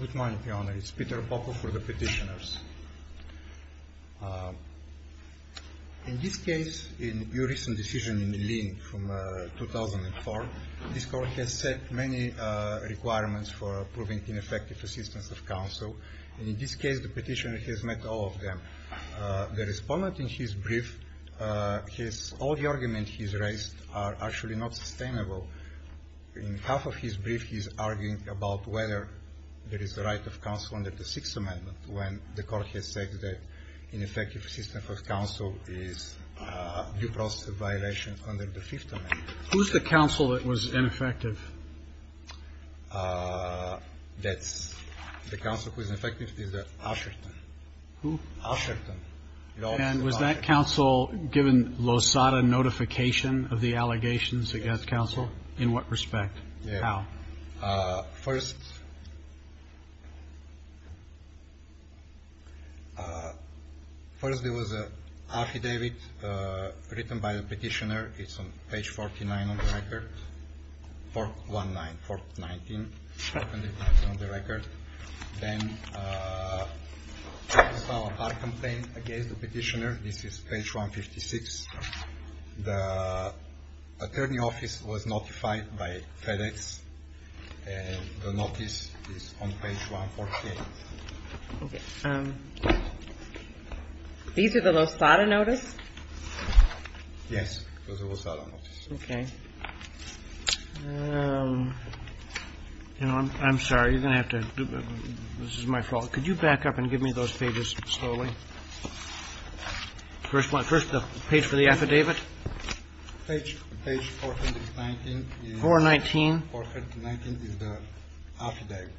Good morning, Your Honor. It's Peter Popov for the Petitioners. In this case, in your recent decision in the Lien from 2004, this Court has set many requirements for approving ineffective assistance of counsel, and in this case the Petitioner has met all of them. The respondent in his brief, all the arguments he's raised are actually not sustainable. So in half of his brief, he's arguing about whether there is the right of counsel under the Sixth Amendment when the Court has said that ineffective assistance of counsel is due process of violation under the Fifth Amendment. Who's the counsel that was ineffective? That's the counsel who is ineffective is the Usherton. Who? Usherton. And was that counsel given Losada notification of the allegations against counsel? In what respect? How? First, there was an affidavit written by the Petitioner. It's on page 49 on the record. 499 on the record. Then there was a hard complaint against the Petitioner. This is page 156. The Attorney's Office was notified by FedEx, and the notice is on page 148. Okay. These are the Losada notices? Yes, those are Losada notices. Okay. You know, I'm sorry. You're going to have to do this. This is my fault. Could you back up and give me those pages slowly? First the page for the affidavit. Page 419. 419. Page 419 is the affidavit.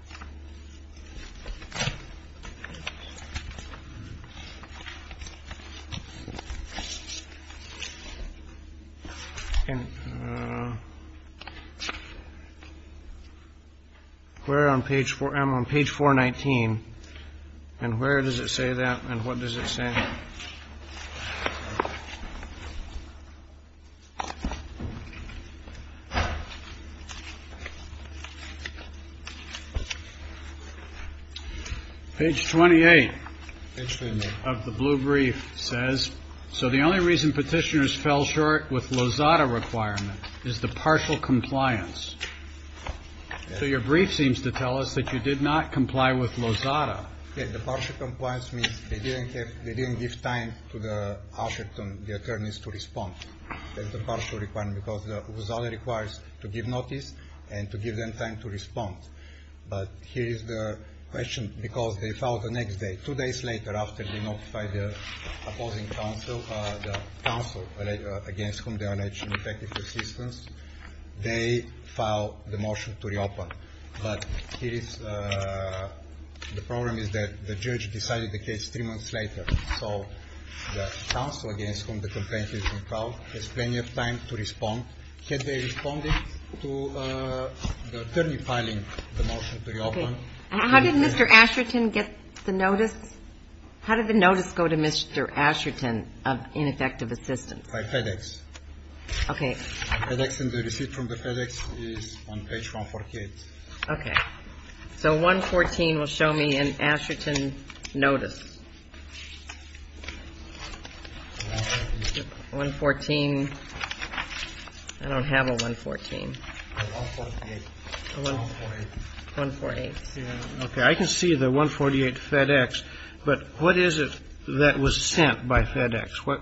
And where on page 419, and where does it say that, and what does it say? Page 419. Page 28. Page 28. Of the blue brief says, So the only reason Petitioners fell short with Losada requirement is the partial compliance. So your brief seems to tell us that you did not comply with Losada. Yes, the partial compliance means they didn't give time to the Asherton, the attorneys, to respond. That's the partial requirement, because Losada requires to give notice and to give them time to respond. But here is the question, because they filed the next day, two days later, after they notified the opposing counsel, against whom they allege ineffective assistance, they filed the motion to reopen. But the problem is that the judge decided the case three months later. So the counsel against whom the complaint is being filed has plenty of time to respond. Had they responded to the attorney filing the motion to reopen. How did Mr. Asherton get the notice? How did the notice go to Mr. Asherton of ineffective assistance? By FedEx. Okay. FedEx and the receipt from the FedEx is on page 148. Okay. So 114 will show me an Asherton notice. 114. I don't have a 114. A 148. 148. Okay. I can see the 148 FedEx, but what is it that was sent by FedEx? Where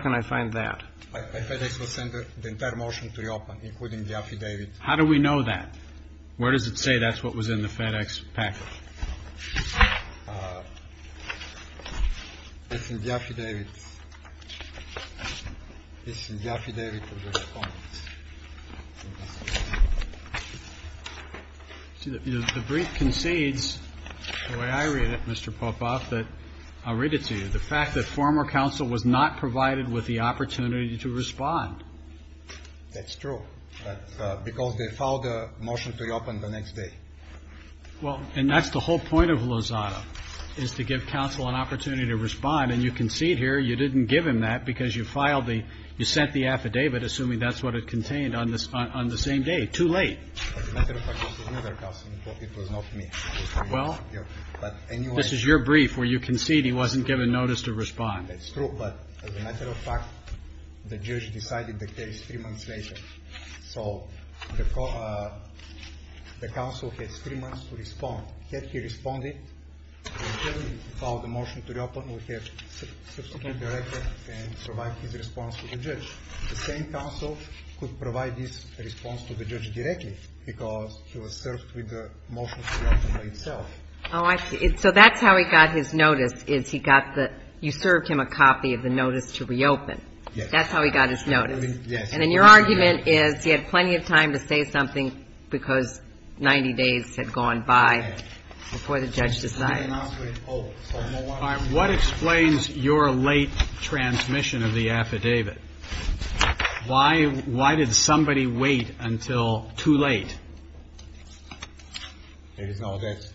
can I find that? FedEx will send the entire motion to reopen, including the affidavit. How do we know that? Where does it say that's what was in the FedEx package? It's in the affidavit. It's in the affidavit of the respondent. The brief concedes, the way I read it, Mr. Popov, that I'll read it to you. The fact that former counsel was not provided with the opportunity to respond. That's true. But because they filed a motion to reopen the next day. Well, and that's the whole point of Lozada, is to give counsel an opportunity to respond. And you concede here you didn't give him that because you filed the, you sent the affidavit assuming that's what it contained on the same day. Too late. As a matter of fact, it was another counsel. It was not me. Well, this is your brief where you concede he wasn't given notice to respond. That's true. But as a matter of fact, the judge decided the case three months later. So the counsel has three months to respond. Had he responded, he would have filed a motion to reopen, would have substituted the record and provided his response to the judge. The same counsel could provide this response to the judge directly because he was served with the motion to reopen by itself. Oh, I see. So that's how he got his notice, is he got the, you served him a copy of the notice to reopen. Yes. That's how he got his notice. Yes. And then your argument is he had plenty of time to say something because 90 days had gone by before the judge decided. What explains your late transmission of the affidavit? Why did somebody wait until too late? There is no doubt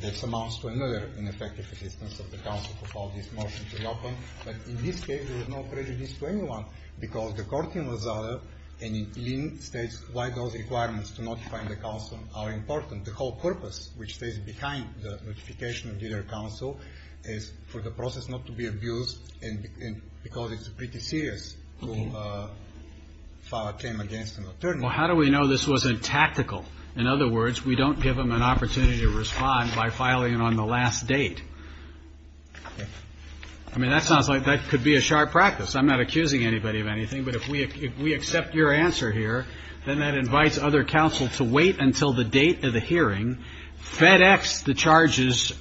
that amounts to another ineffective assistance of the counsel to file this motion to reopen. But in this case, there is no prejudice to anyone because the court in Lazada and in Linn states why those requirements to notify the counsel are important. The whole purpose, which stays behind the notification to their counsel, is for the process not to be abused and because it's pretty serious to file a claim against an attorney. Well, how do we know this wasn't tactical? In other words, we don't give them an opportunity to respond by filing it on the last date. I mean, that sounds like that could be a sharp practice. I'm not accusing anybody of anything, but if we accept your answer here, then that invites other counsel to wait until the date of the hearing, FedEx the charges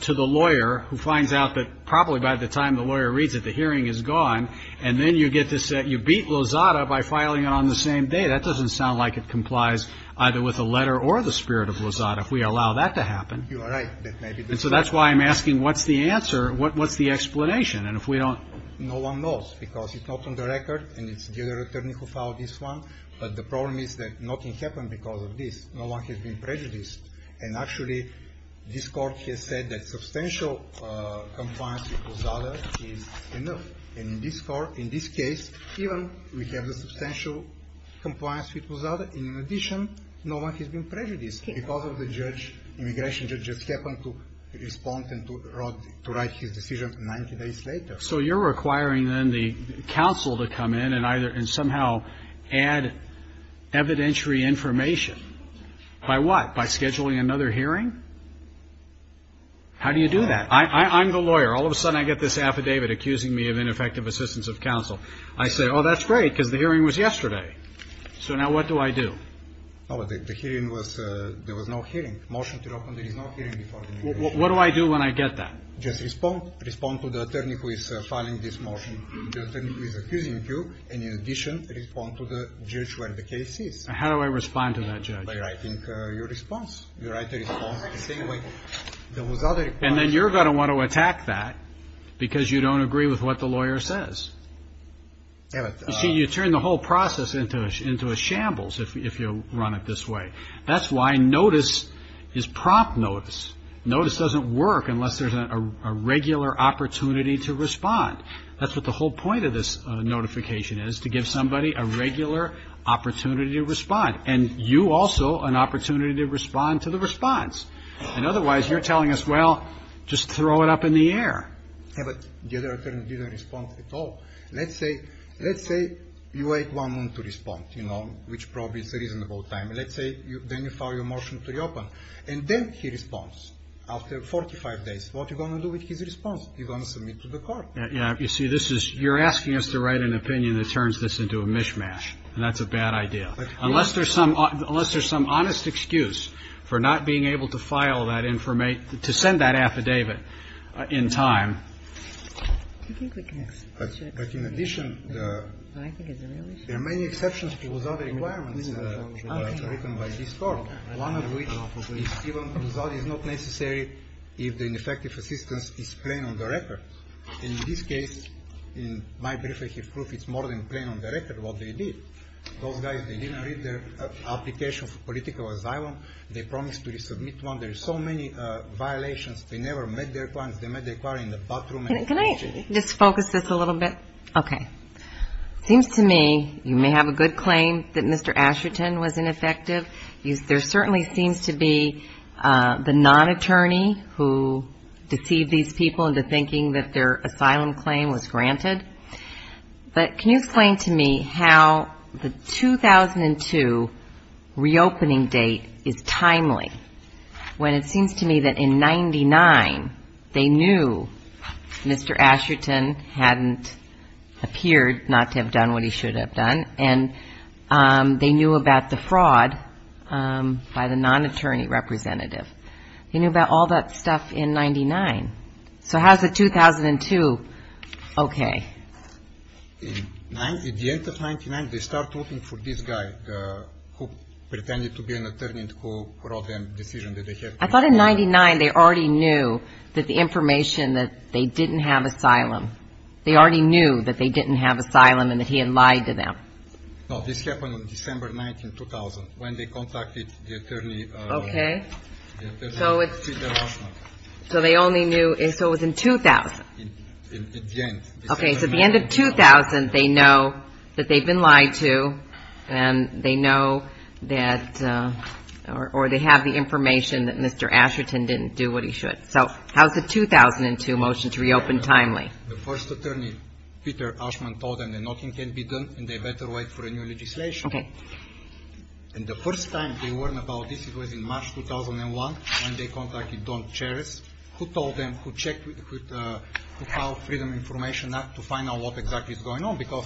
to the lawyer who finds out that probably by the time the lawyer reads it, the hearing is gone, and then you get to say you beat Lazada by filing it on the same day. That doesn't sound like it complies either with the letter or the spirit of Lazada if we allow that to happen. You are right. And so that's why I'm asking what's the answer? What's the explanation? And if we don't? No one knows because it's not on the record and it's the other attorney who filed this one. But the problem is that nothing happened because of this. No one has been prejudiced. And actually, this Court has said that substantial compliance with Lazada is enough. And in this Court, in this case, even we have the substantial compliance with Lazada, in addition, no one has been prejudiced because of the judge, immigration judge, just happened to respond and to write his decision 90 days later. So you're requiring then the counsel to come in and somehow add evidentiary information. By what? By scheduling another hearing? How do you do that? I'm the lawyer. All of a sudden I get this affidavit accusing me of ineffective assistance of counsel. I say, oh, that's great because the hearing was yesterday. So now what do I do? The hearing was, there was no hearing. Motion to reopen, there is no hearing before the immigration judge. What do I do when I get that? Just respond. Respond to the attorney who is filing this motion. The attorney who is accusing you. And in addition, respond to the judge where the case is. How do I respond to that judge? By writing your response. You write the response the same way. And then you're going to want to attack that because you don't agree with what the lawyer says. You see, you turn the whole process into a shambles if you run it this way. That's why notice is prompt notice. Notice doesn't work unless there's a regular opportunity to respond. That's what the whole point of this notification is, to give somebody a regular opportunity to respond. And you also an opportunity to respond to the response. And otherwise you're telling us, well, just throw it up in the air. Yeah, but the other attorney didn't respond at all. Let's say you wait one month to respond, you know, which probably is a reasonable time. Let's say then you file your motion to reopen. And then he responds after 45 days. What are you going to do with his response? You're going to submit to the court. Yeah, you see, you're asking us to write an opinion that turns this into a mishmash. And that's a bad idea. Unless there's some honest excuse for not being able to file that, to send that affidavit in time. But in addition, there are many exceptions to the requirements written by this court. One of which is that it's not necessary if the ineffective assistance is plain on the record. In this case, in my brief, I have proof it's more than plain on the record what they did. Those guys, they didn't read their application for political asylum. They promised to resubmit one. There are so many violations. They never met their clients. Can I just focus this a little bit? Okay. It seems to me you may have a good claim that Mr. Asherton was ineffective. There certainly seems to be the non-attorney who deceived these people into thinking that their asylum claim was granted. But can you explain to me how the 2002 reopening date is timely, when it seems to me that in 99 they knew Mr. Asherton hadn't appeared not to have done what he should have done, and they knew about the fraud by the non-attorney representative. They knew about all that stuff in 99. So how is the 2002 okay? At the end of 99, they start looking for this guy who pretended to be an attorney and who brought them the decision that they had to. I thought in 99 they already knew that the information that they didn't have asylum. They already knew that they didn't have asylum and that he had lied to them. No, this happened on December 9, 2000, when they contacted the attorney. Okay. So they only knew. So it was in 2000. At the end. Okay, so at the end of 2000, they know that they've been lied to and they know that or they have the information that Mr. Asherton didn't do what he should. So how is the 2002 motion to reopen timely? The first attorney, Peter Ashman, told them that nothing can be done and they better wait for a new legislation. Okay. And the first time they learned about this, it was in March 2001, when they contacted Don Cheris, who told them to check with the Freedom of Information Act to find out what exactly is going on because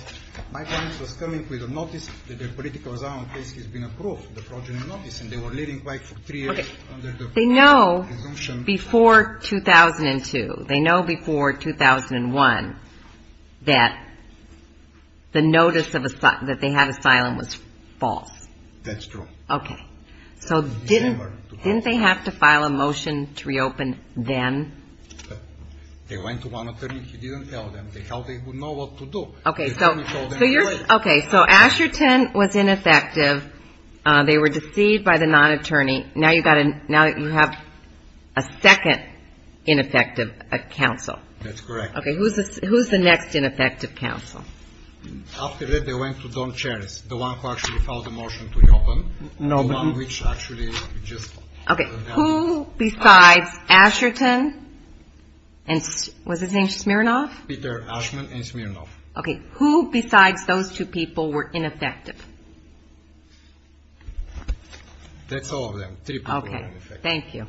my parents was coming with a notice that their political asylum case has been approved, the progeny notice, and they were living like for three years. Okay. They know before 2002. They know before 2001 that the notice that they had asylum was false. That's true. Okay. So didn't they have to file a motion to reopen then? They went to one attorney. He didn't tell them. They thought they would know what to do. Okay, so Asherton was ineffective. They were deceived by the non-attorney. Now you have a second ineffective counsel. That's correct. Okay, who's the next ineffective counsel? After that, they went to Don Cheris, the one who actually filed the motion to reopen. Okay, who besides Asherton and was his name Smirnoff? Peter Ashman and Smirnoff. Okay, who besides those two people were ineffective? That's all of them. Three people were ineffective. Okay, thank you.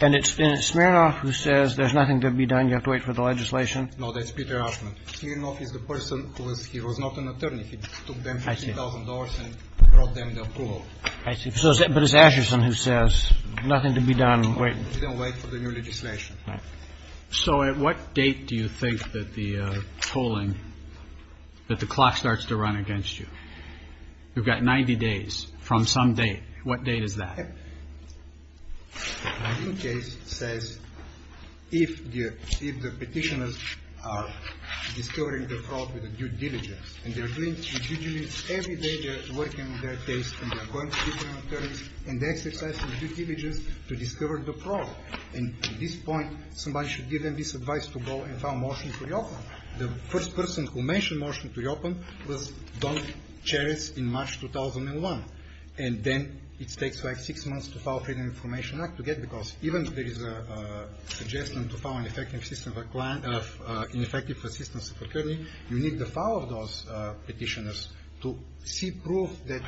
And it's Smirnoff who says there's nothing to be done, you have to wait for the legislation? No, that's Peter Ashman. Smirnoff is the person who was not an attorney. I see. But it's Asherton who says nothing to be done, wait. He didn't wait for the new legislation. So at what date do you think that the polling, that the clock starts to run against you? You've got 90 days from some date. What date is that? The case says if the petitioners are discovering the fraud with a due diligence, and they're doing, every day they're working on their case and they're going to different attorneys and they're exercising due diligence to discover the fraud. And at this point, somebody should give them this advice to go and file a motion to reopen. The first person who mentioned motion to reopen was Don Cheris in March 2001. And then it takes, like, six months to file Freedom of Information Act to get, because even if there is a suggestion to file an effective assistance of attorney, you need to follow those petitioners to see proof that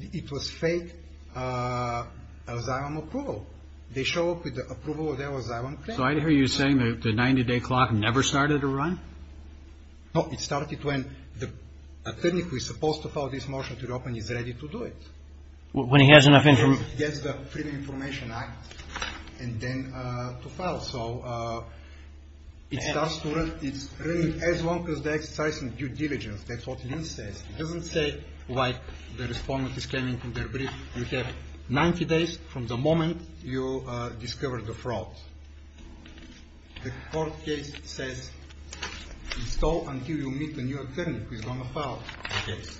it was fake asylum approval. They show up with the approval of their asylum claim. So I hear you saying the 90-day clock never started to run? No, it started when the attorney who is supposed to file this motion to reopen is ready to do it. When he has enough information? Yes, the Freedom of Information Act, and then to file. So it starts to run as long as they're exercising due diligence. That's what Lynn says. It doesn't say, like, the respondent is coming from their brief. You have 90 days from the moment you discover the fraud. The court case says install until you meet the new attorney who is going to file the case,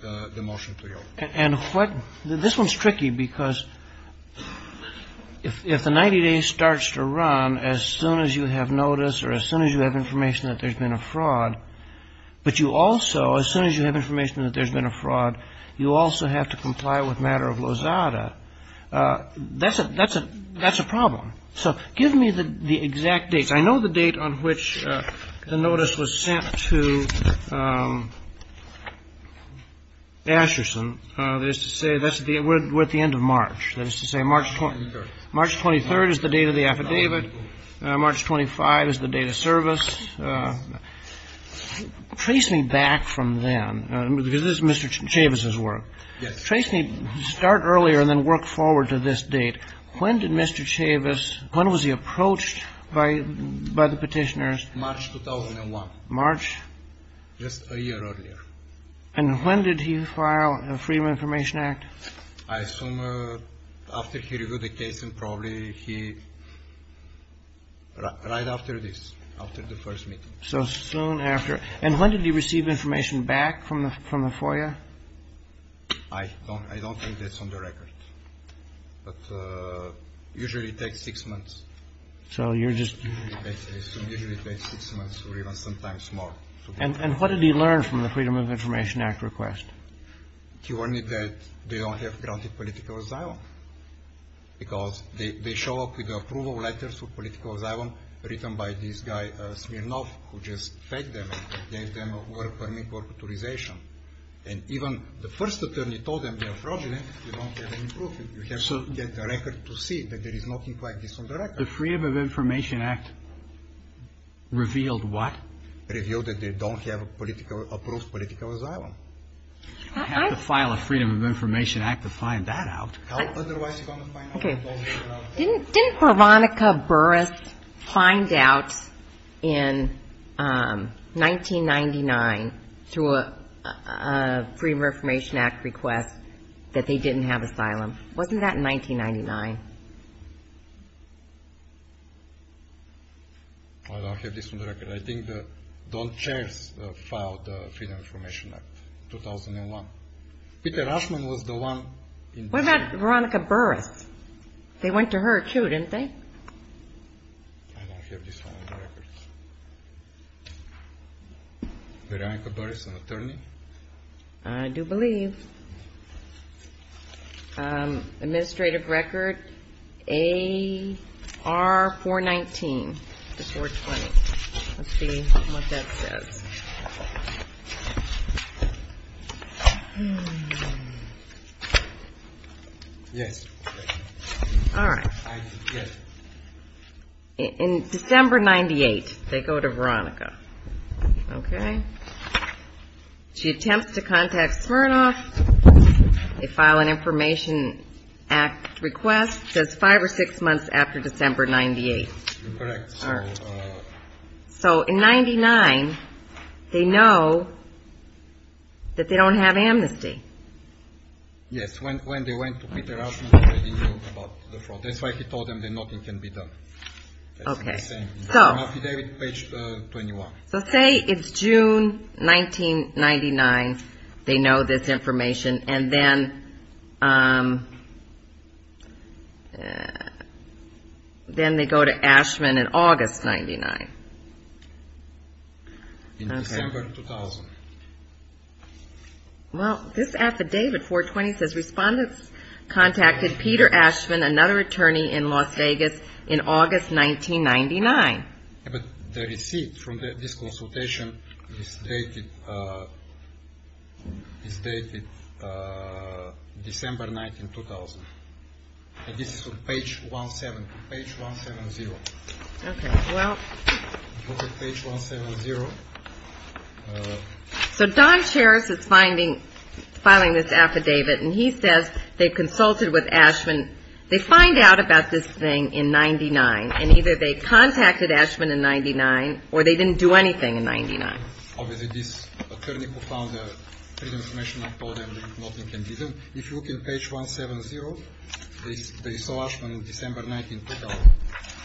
the motion to reopen. And what – this one's tricky because if the 90 days starts to run as soon as you have notice or as soon as you have information that there's been a fraud, but you also, as soon as you have information that there's been a fraud, you also have to comply with matter of Lozada. That's a problem. So give me the exact dates. I know the date on which the notice was sent to Asherson. That is to say, we're at the end of March. That is to say, March 23rd is the date of the affidavit. March 25th is the date of service. Trace me back from then, because this is Mr. Chavis's work. Yes. Trace me – start earlier and then work forward to this date. When did Mr. Chavis – when was he approached by the petitioners? March 2001. March? Just a year earlier. And when did he file a Freedom of Information Act? I assume after he reviewed the case and probably he – right after this, after the first meeting. So soon after. And when did he receive information back from the FOIA? I don't think that's on the record. But usually it takes six months. So you're just – It usually takes six months or even sometimes more. And what did he learn from the Freedom of Information Act request? He learned that they don't have granted political asylum, because they show up with the approval letters for political asylum written by this guy Smirnov, who just faked them and gave them a work permit, work authorization. And even the first attorney told them they are fraudulent, you don't get any proof. You have to get the record to see that there is nothing like this on the record. The Freedom of Information Act revealed what? Revealed that they don't have a political – approved political asylum. I have to file a Freedom of Information Act to find that out. How otherwise are you going to find out? Didn't Veronica Burris find out in 1999 through a Freedom of Information Act request that they didn't have asylum? Wasn't that in 1999? I don't have this on the record. I think that Don Chairs filed the Freedom of Information Act in 2001. What about Veronica Burris? They went to her, too, didn't they? I don't have this one on the record. Veronica Burris, an attorney? I do believe. Administrative record AR419. Let's see what that says. Yes. All right. In December 1998, they go to Veronica, okay? She attempts to contact Smirnoff. They file an Information Act request. It says five or six months after December 1998. Correct. All right. So in 1999, they know that they don't have amnesty. Yes. When they went to Peter Ashman, they didn't know about the fraud. That's why he told them that nothing can be done. Okay. That's what he's saying. So let's say it's June 1999. They know this information. And then they go to Ashman in August 1999. In December 2000. Well, this affidavit, 420, says, Respondents contacted Peter Ashman, another attorney in Las Vegas, in August 1999. But the receipt from this consultation is dated December 19, 2000. This is on page 170. Page 170. Okay. Well. Look at page 170. So Don Sherris is filing this affidavit, and he says they consulted with Ashman. They find out about this thing in 1999. And either they contacted Ashman in 1999, or they didn't do anything in 1999. Obviously, this attorney who found the information told them that nothing can be done. If you look at page 170, they saw Ashman in December 19, 2000.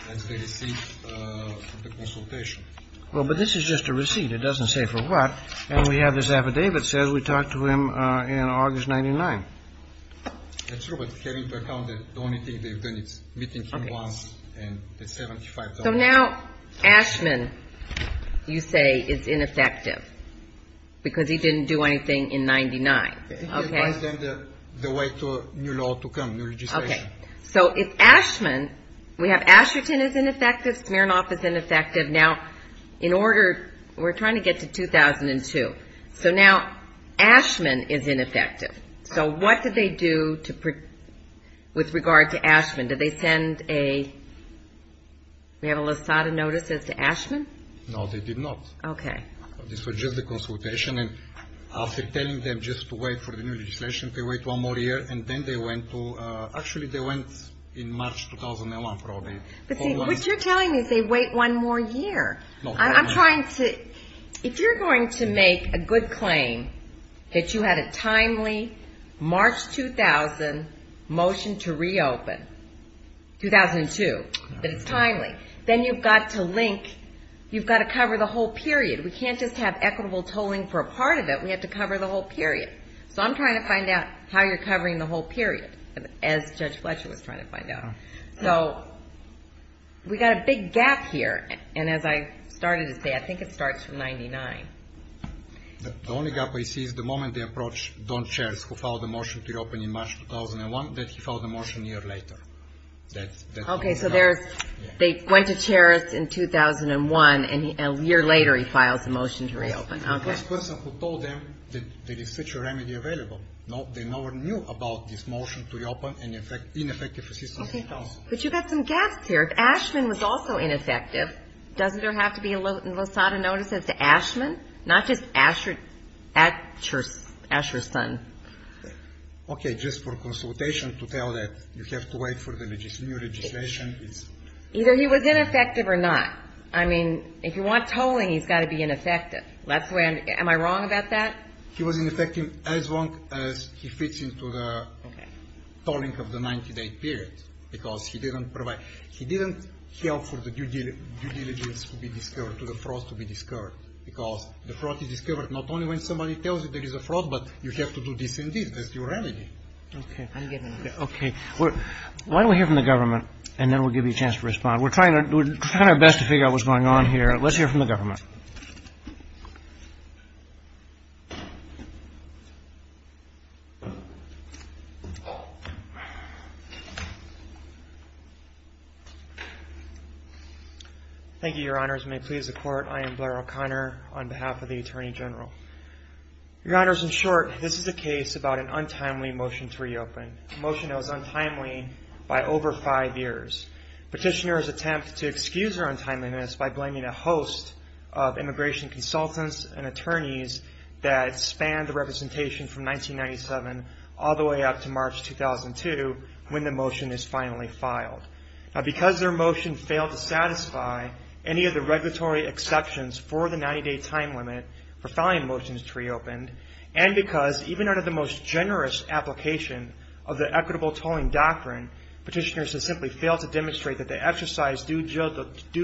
That's the receipt of the consultation. Well, but this is just a receipt. It doesn't say for what. And we have this affidavit that says we talked to him in August 1999. That's true, but take into account that the only thing they've done is meeting him once and the $75,000. So now Ashman, you say, is ineffective because he didn't do anything in 1999. Okay. Advise them the way to a new law to come, new legislation. Okay. So it's Ashman. We have Asherton is ineffective. Smirnoff is ineffective. Now, in order, we're trying to get to 2002. So now Ashman is ineffective. So what do they do with regard to Ashman? Do they send a, do they have a LASADA notice as to Ashman? No, they did not. Okay. This was just a consultation, and after telling them just to wait for the new legislation, they wait one more year, and then they went to, actually they went in March 2001, probably. But see, what you're telling me is they wait one more year. I'm trying to, if you're going to make a good claim that you had a timely March 2000 motion to reopen, 2002, that it's timely, then you've got to link, you've got to cover the whole period. We can't just have equitable tolling for a part of it. We have to cover the whole period. So I'm trying to find out how you're covering the whole period, as Judge Fletcher was trying to find out. So we've got a big gap here, and as I started to say, I think it starts from 99. The only gap I see is the moment they approach Don Cheris, who filed the motion to reopen in March 2001, that he filed the motion a year later. Okay, so there's, they went to Cheris in 2001, and a year later he files a motion to reopen. Okay. This person who told them that there is such a remedy available, they never knew about this motion to reopen and ineffective assistance. Okay, but you've got some gaps here. If Ashman was also ineffective, doesn't there have to be a LOSADA notice as to Ashman? Not just Asherson. Okay, just for consultation to tell that you have to wait for the new legislation. Either he was ineffective or not. I mean, if you want tolling, he's got to be ineffective. Am I wrong about that? He was ineffective as long as he fits into the tolling of the 90-day period, because he didn't provide. He didn't help for the due diligence to be discovered, for the fraud to be discovered, because the fraud is discovered not only when somebody tells you there is a fraud, but you have to do this and this. That's your remedy. Okay. I'm giving up. Okay. Why don't we hear from the government, and then we'll give you a chance to respond. We're trying our best to figure out what's going on here. All right. Let's hear from the government. Thank you, Your Honors. And may it please the Court, I am Blair O'Connor on behalf of the Attorney General. Your Honors, in short, this is a case about an untimely motion to reopen, a motion that was untimely by over five years. Petitioners attempt to excuse their untimeliness by blaming a host of immigration consultants and attorneys that spanned the representation from 1997 all the way up to March 2002, when the motion is finally filed. Now, because their motion failed to satisfy any of the regulatory exceptions for the 90-day time limit for filing motions to reopen, and because even under the most generous application of the equitable tolling doctrine, petitioners have simply failed to demonstrate that they exercise due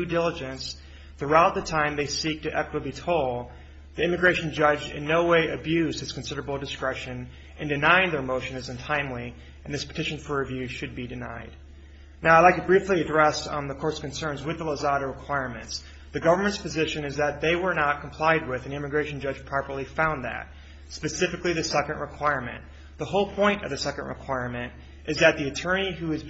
diligence throughout the time they seek to equitably toll, the immigration judge in no way abused his considerable discretion in denying their motion is untimely, and this petition for review should be denied. Now, I'd like to briefly address the Court's concerns with the Lozada requirements. The government's position is that they were not complied with, and the immigration judge properly found that, specifically the second requirement. The whole point of the second requirement is that the attorney who is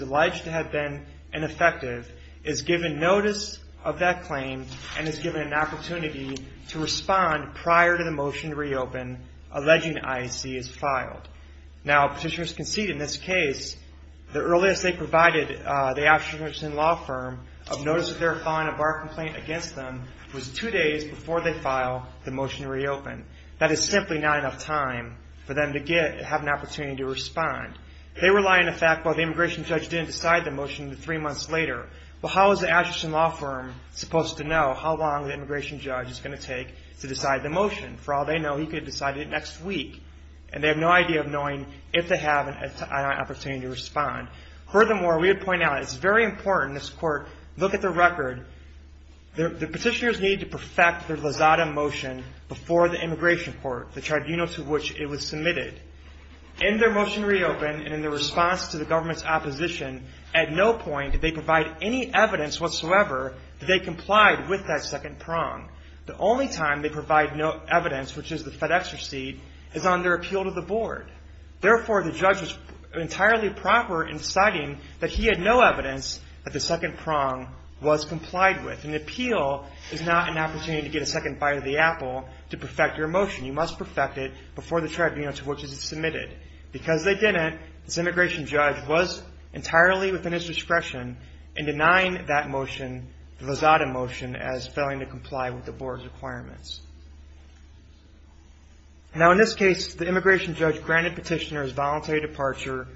alleged to have been ineffective is given notice of that claim and is given an opportunity to respond prior to the motion to reopen, alleging IEC is filed. Now, petitioners conceded in this case, the earliest they provided the Ashton-Wilson law firm of notice of their filing a bar complaint against them was two days before they filed the motion to reopen. That is simply not enough time for them to have an opportunity to respond. They rely on the fact, well, the immigration judge didn't decide the motion until three months later. Well, how is the Ashton-Wilson law firm supposed to know how long the immigration judge is going to take to decide the motion? For all they know, he could have decided it next week, and they have no idea of knowing if they have an opportunity to respond. Furthermore, we would point out, it's very important in this Court, look at the record. The petitioners need to perfect their Lozada motion before the immigration court, the tribunal to which it was submitted. In their motion to reopen and in their response to the government's opposition, at no point did they provide any evidence whatsoever that they complied with that second prong. The only time they provide no evidence, which is the FedEx receipt, is on their appeal to the board. Therefore, the judge was entirely proper in deciding that he had no evidence that the second prong was complied with. An appeal is not an opportunity to get a second bite of the apple to perfect your motion. You must perfect it before the tribunal to which it was submitted. Because they didn't, this immigration judge was entirely within his discretion in denying that motion, the Lozada motion, as failing to comply with the board's requirements. Now, in this case, the immigration judge granted petitioners voluntary departure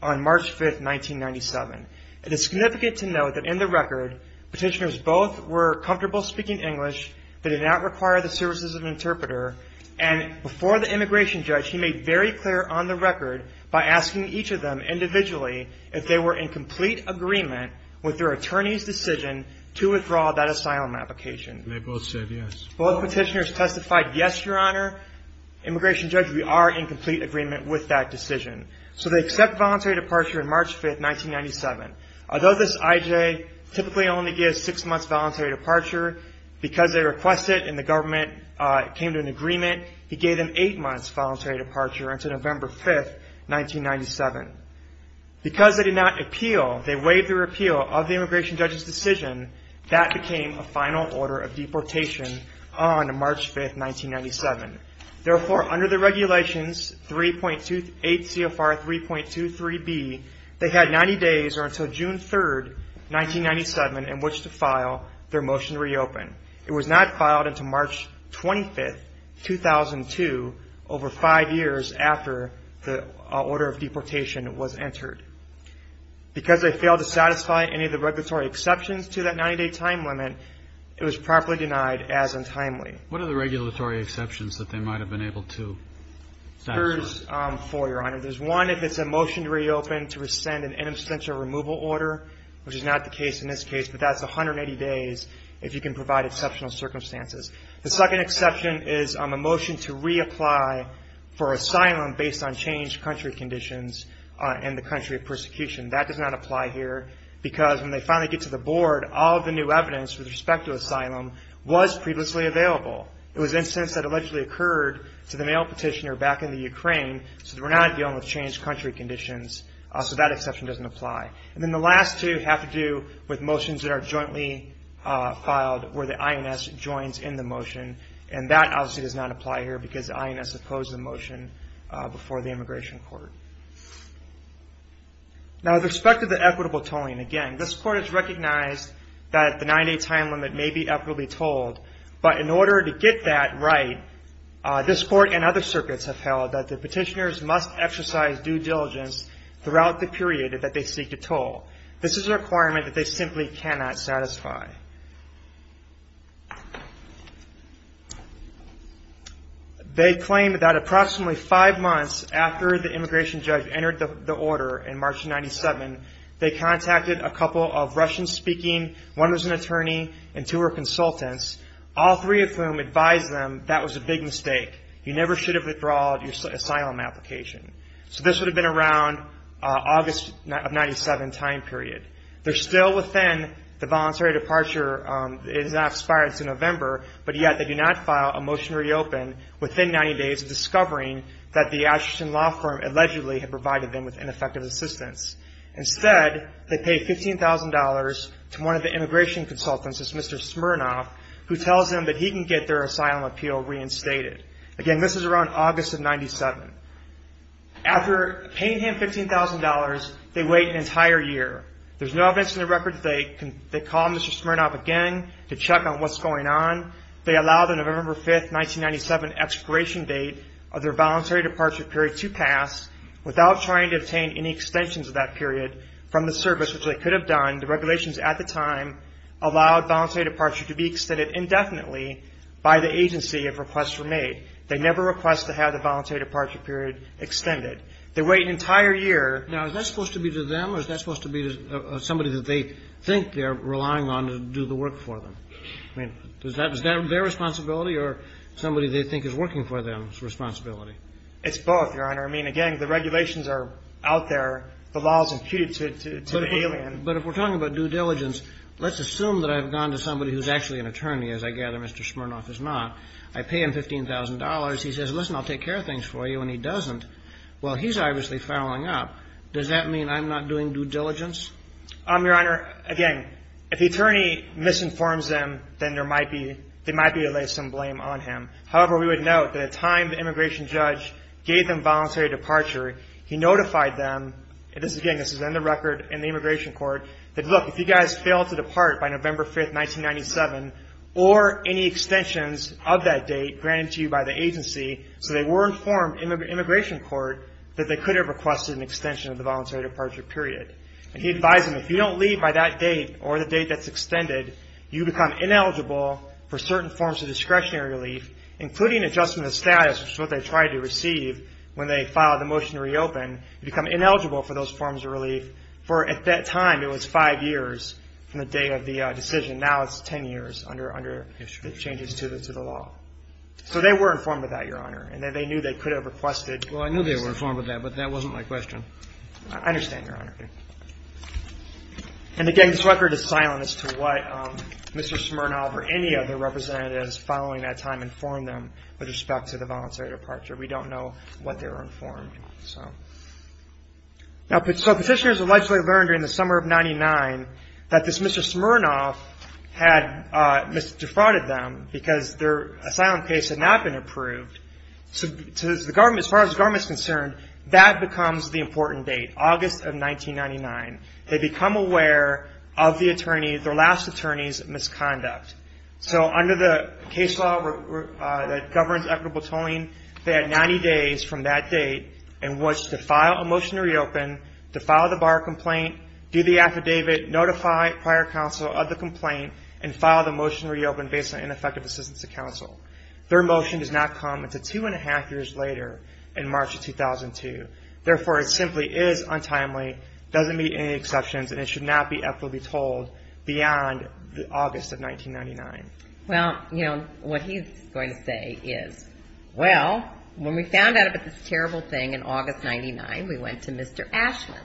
on March 5, 1997. It is significant to note that in the record, petitioners both were comfortable speaking English, they did not require the services of an interpreter, and before the immigration judge, he made very clear on the record by asking each of them individually if they were in complete agreement with their attorney's decision to withdraw that asylum application. They both said yes. Both petitioners testified yes, Your Honor. Immigration judge, we are in complete agreement with that decision. So they accept voluntary departure on March 5, 1997. Although this IJ typically only gives six months voluntary departure, because they requested and the government came to an agreement, he gave them eight months voluntary departure until November 5, 1997. Because they did not appeal, they waived their appeal of the immigration judge's decision, that became a final order of deportation on March 5, 1997. Therefore, under the regulations 3.28 CFR 3.23B, they had 90 days, or until June 3, 1997, in which to file their motion to reopen. It was not filed until March 25, 2002, over five years after the order of deportation, was entered. Because they failed to satisfy any of the regulatory exceptions to that 90-day time limit, it was properly denied as untimely. What are the regulatory exceptions that they might have been able to satisfy? There's four, Your Honor. There's one if it's a motion to reopen to rescind an inobstantial removal order, which is not the case in this case, but that's 180 days if you can provide exceptional circumstances. The second exception is a motion to reapply for asylum based on changed country conditions in the country of persecution. That does not apply here, because when they finally get to the board, all of the new evidence with respect to asylum was previously available. It was an instance that allegedly occurred to the mail petitioner back in the Ukraine, so we're not dealing with changed country conditions, so that exception doesn't apply. And then the last two have to do with motions that are jointly filed where the INS joins in the motion, and that obviously does not apply here, because the INS opposed the motion before the Immigration Court. Now with respect to the equitable tolling, again, this Court has recognized that the 90-day time limit may be equitably tolled, but in order to get that right, this Court and other circuits have held that the petitioners must exercise due diligence throughout the period that they seek to toll. This is a requirement that they simply cannot satisfy. They claim that approximately five months after the immigration judge entered the order in March of 97, they contacted a couple of Russian-speaking, one was an attorney, and two were consultants, all three of whom advised them that was a big mistake. You never should have withdrawn your asylum application. So this would have been around August of 97 time period. They're still within the voluntary departure, it has not expired since November, but yet they do not file a motion to reopen within 90 days of discovering that the Asherton Law Firm allegedly had provided them with ineffective assistance. Instead, they pay $15,000 to one of the immigration consultants, this Mr. Smirnoff, who tells them that he can get their asylum appeal reinstated. Again, this is around August of 97. After paying him $15,000, they wait an entire year. There's no evidence in the records that they call Mr. Smirnoff again to check on what's going on. They allow the November 5, 1997 expiration date of their voluntary departure period to pass without trying to obtain any extensions of that period from the service, which they could have done. The regulations at the time allowed voluntary departure to be extended indefinitely by the agency if requests were made. They never request to have the voluntary departure period extended. They wait an entire year. Now, is that supposed to be to them, or is that supposed to be to somebody that they think they're relying on to do the work for them? I mean, is that their responsibility, or somebody they think is working for them's responsibility? It's both, Your Honor. I mean, again, the regulations are out there. The law is imputed to the alien. But if we're talking about due diligence, let's assume that I've gone to somebody who's actually an attorney, as I gather Mr. Smirnoff is not. I pay him $15,000. He says, listen, I'll take care of things for you, and he doesn't. Well, he's obviously fouling up. Does that mean I'm not doing due diligence? Your Honor, again, if the attorney misinforms them, then there might be to lay some blame on him. However, we would note that at the time the immigration judge gave them voluntary departure, he notified them. Again, this is in the record in the immigration court, that, look, if you guys fail to depart by November 5, 1997, or any extensions of that date granted to you by the agency so they were informed in the immigration court, that they could have requested an extension of the voluntary departure period. And he advised them, if you don't leave by that date or the date that's extended, you become ineligible for certain forms of discretionary relief, including adjustment of status, which is what they tried to receive when they filed the motion to reopen. You become ineligible for those forms of relief for, at that time, it was five years from the date of the decision. Now it's 10 years under the changes to the law. So they were informed of that, Your Honor, and they knew they could have requested an extension. Well, I knew they were informed of that, but that wasn't my question. I understand, Your Honor. And again, this record is silent as to what Mr. Smirnoff or any other representatives following that time informed them with respect to the voluntary departure. We don't know what they were informed, so. Now, so petitioners allegedly learned during the summer of 99 that this Mr. Smirnoff had defrauded them because their asylum case had not been approved. So the government, as far as the government is concerned, that becomes the important date, August of 1999. They become aware of the attorney, their last attorney's misconduct. So under the case law that governs equitable tolling, they had 90 days from that date in which to file a motion to reopen, to file the bar complaint, do the affidavit, notify prior counsel of the complaint, and file the motion to reopen based on ineffective assistance to counsel. Their motion does not come until two and a half years later in March of 2002. Therefore, it simply is untimely, doesn't meet any exceptions, and it should not be equitably tolled beyond August of 1999. Well, you know, what he's going to say is, well, when we found out about this terrible thing in August 99, we went to Mr. Ashman,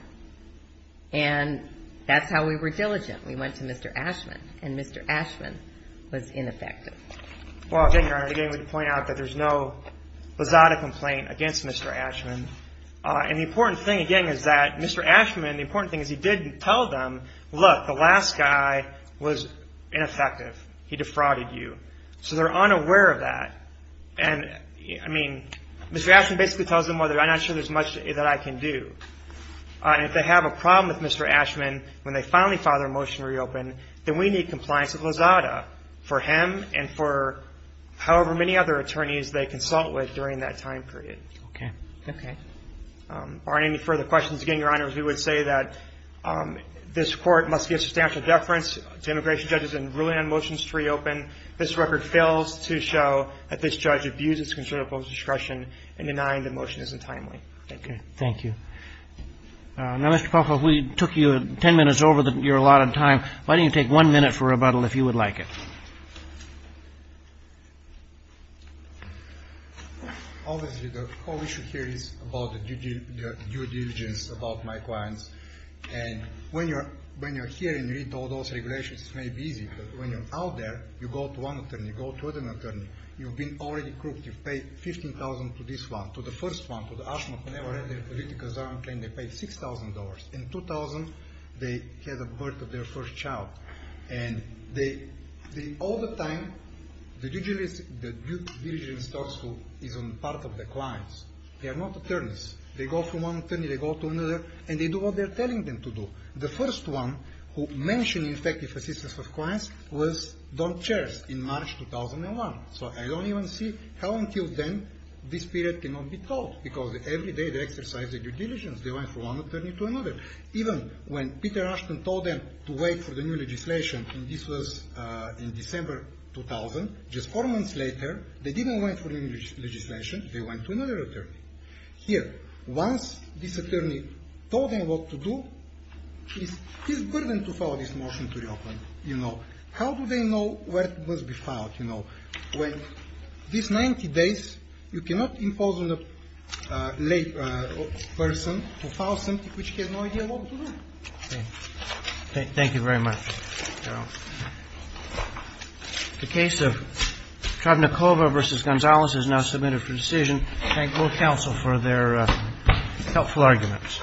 and that's how we were diligent. We went to Mr. Ashman, and Mr. Ashman was ineffective. Well, again, Your Honor, again, we point out that there's no Lozada complaint against Mr. Ashman. And the important thing, again, is that Mr. Ashman, the important thing is he did tell them, look, the last guy was ineffective. He defrauded you. So they're unaware of that. And, I mean, Mr. Ashman basically tells them, well, I'm not sure there's much that I can do. And if they have a problem with Mr. Ashman, when they finally file their motion to reopen, then we need compliance with Lozada for him and for however many other attorneys they consult with during that time period. Okay. Okay. Are there any further questions? Again, Your Honor, we would say that this Court must give substantial deference to immigration judges in ruling on motions to reopen. This record fails to show that this judge abused its conservative public discretion in denying the motion isn't timely. Thank you. Thank you. Now, Mr. Popov, we took you 10 minutes over. You're a lot of time. Why don't you take one minute for rebuttal, if you would like it? Obviously, the whole issue here is about the due diligence about my clients. And when you're here and you read all those regulations, it may be easy. But when you're out there, you go to one attorney, you go to another attorney, you've been already crooked. You've paid $15,000 to this one, to the first one, to the Ashman, who never had their political asylum claim. They paid $6,000. In 2000, they had the birth of their first child. And all the time, the due diligence talks to, is on part of the clients. They are not attorneys. They go from one attorney, they go to another, and they do what they're telling them to do. The first one who mentioned effective assistance of clients was Don Charest in March 2001. So I don't even see how until then this period cannot be told. Because every day they exercise their due diligence. They went from one attorney to another. Even when Peter Ashman told them to wait for the new legislation, and this was in December 2000, just four months later, they didn't wait for the new legislation, they went to another attorney. Here, once this attorney told them what to do, it's a burden to file this motion to reopen. How do they know where it must be filed? These 90 days, you cannot impose on a person to file something which he has no idea what to do. Thank you very much. The case of Travnakova v. Gonzalez is now submitted for decision. Thank both counsel for their helpful arguments.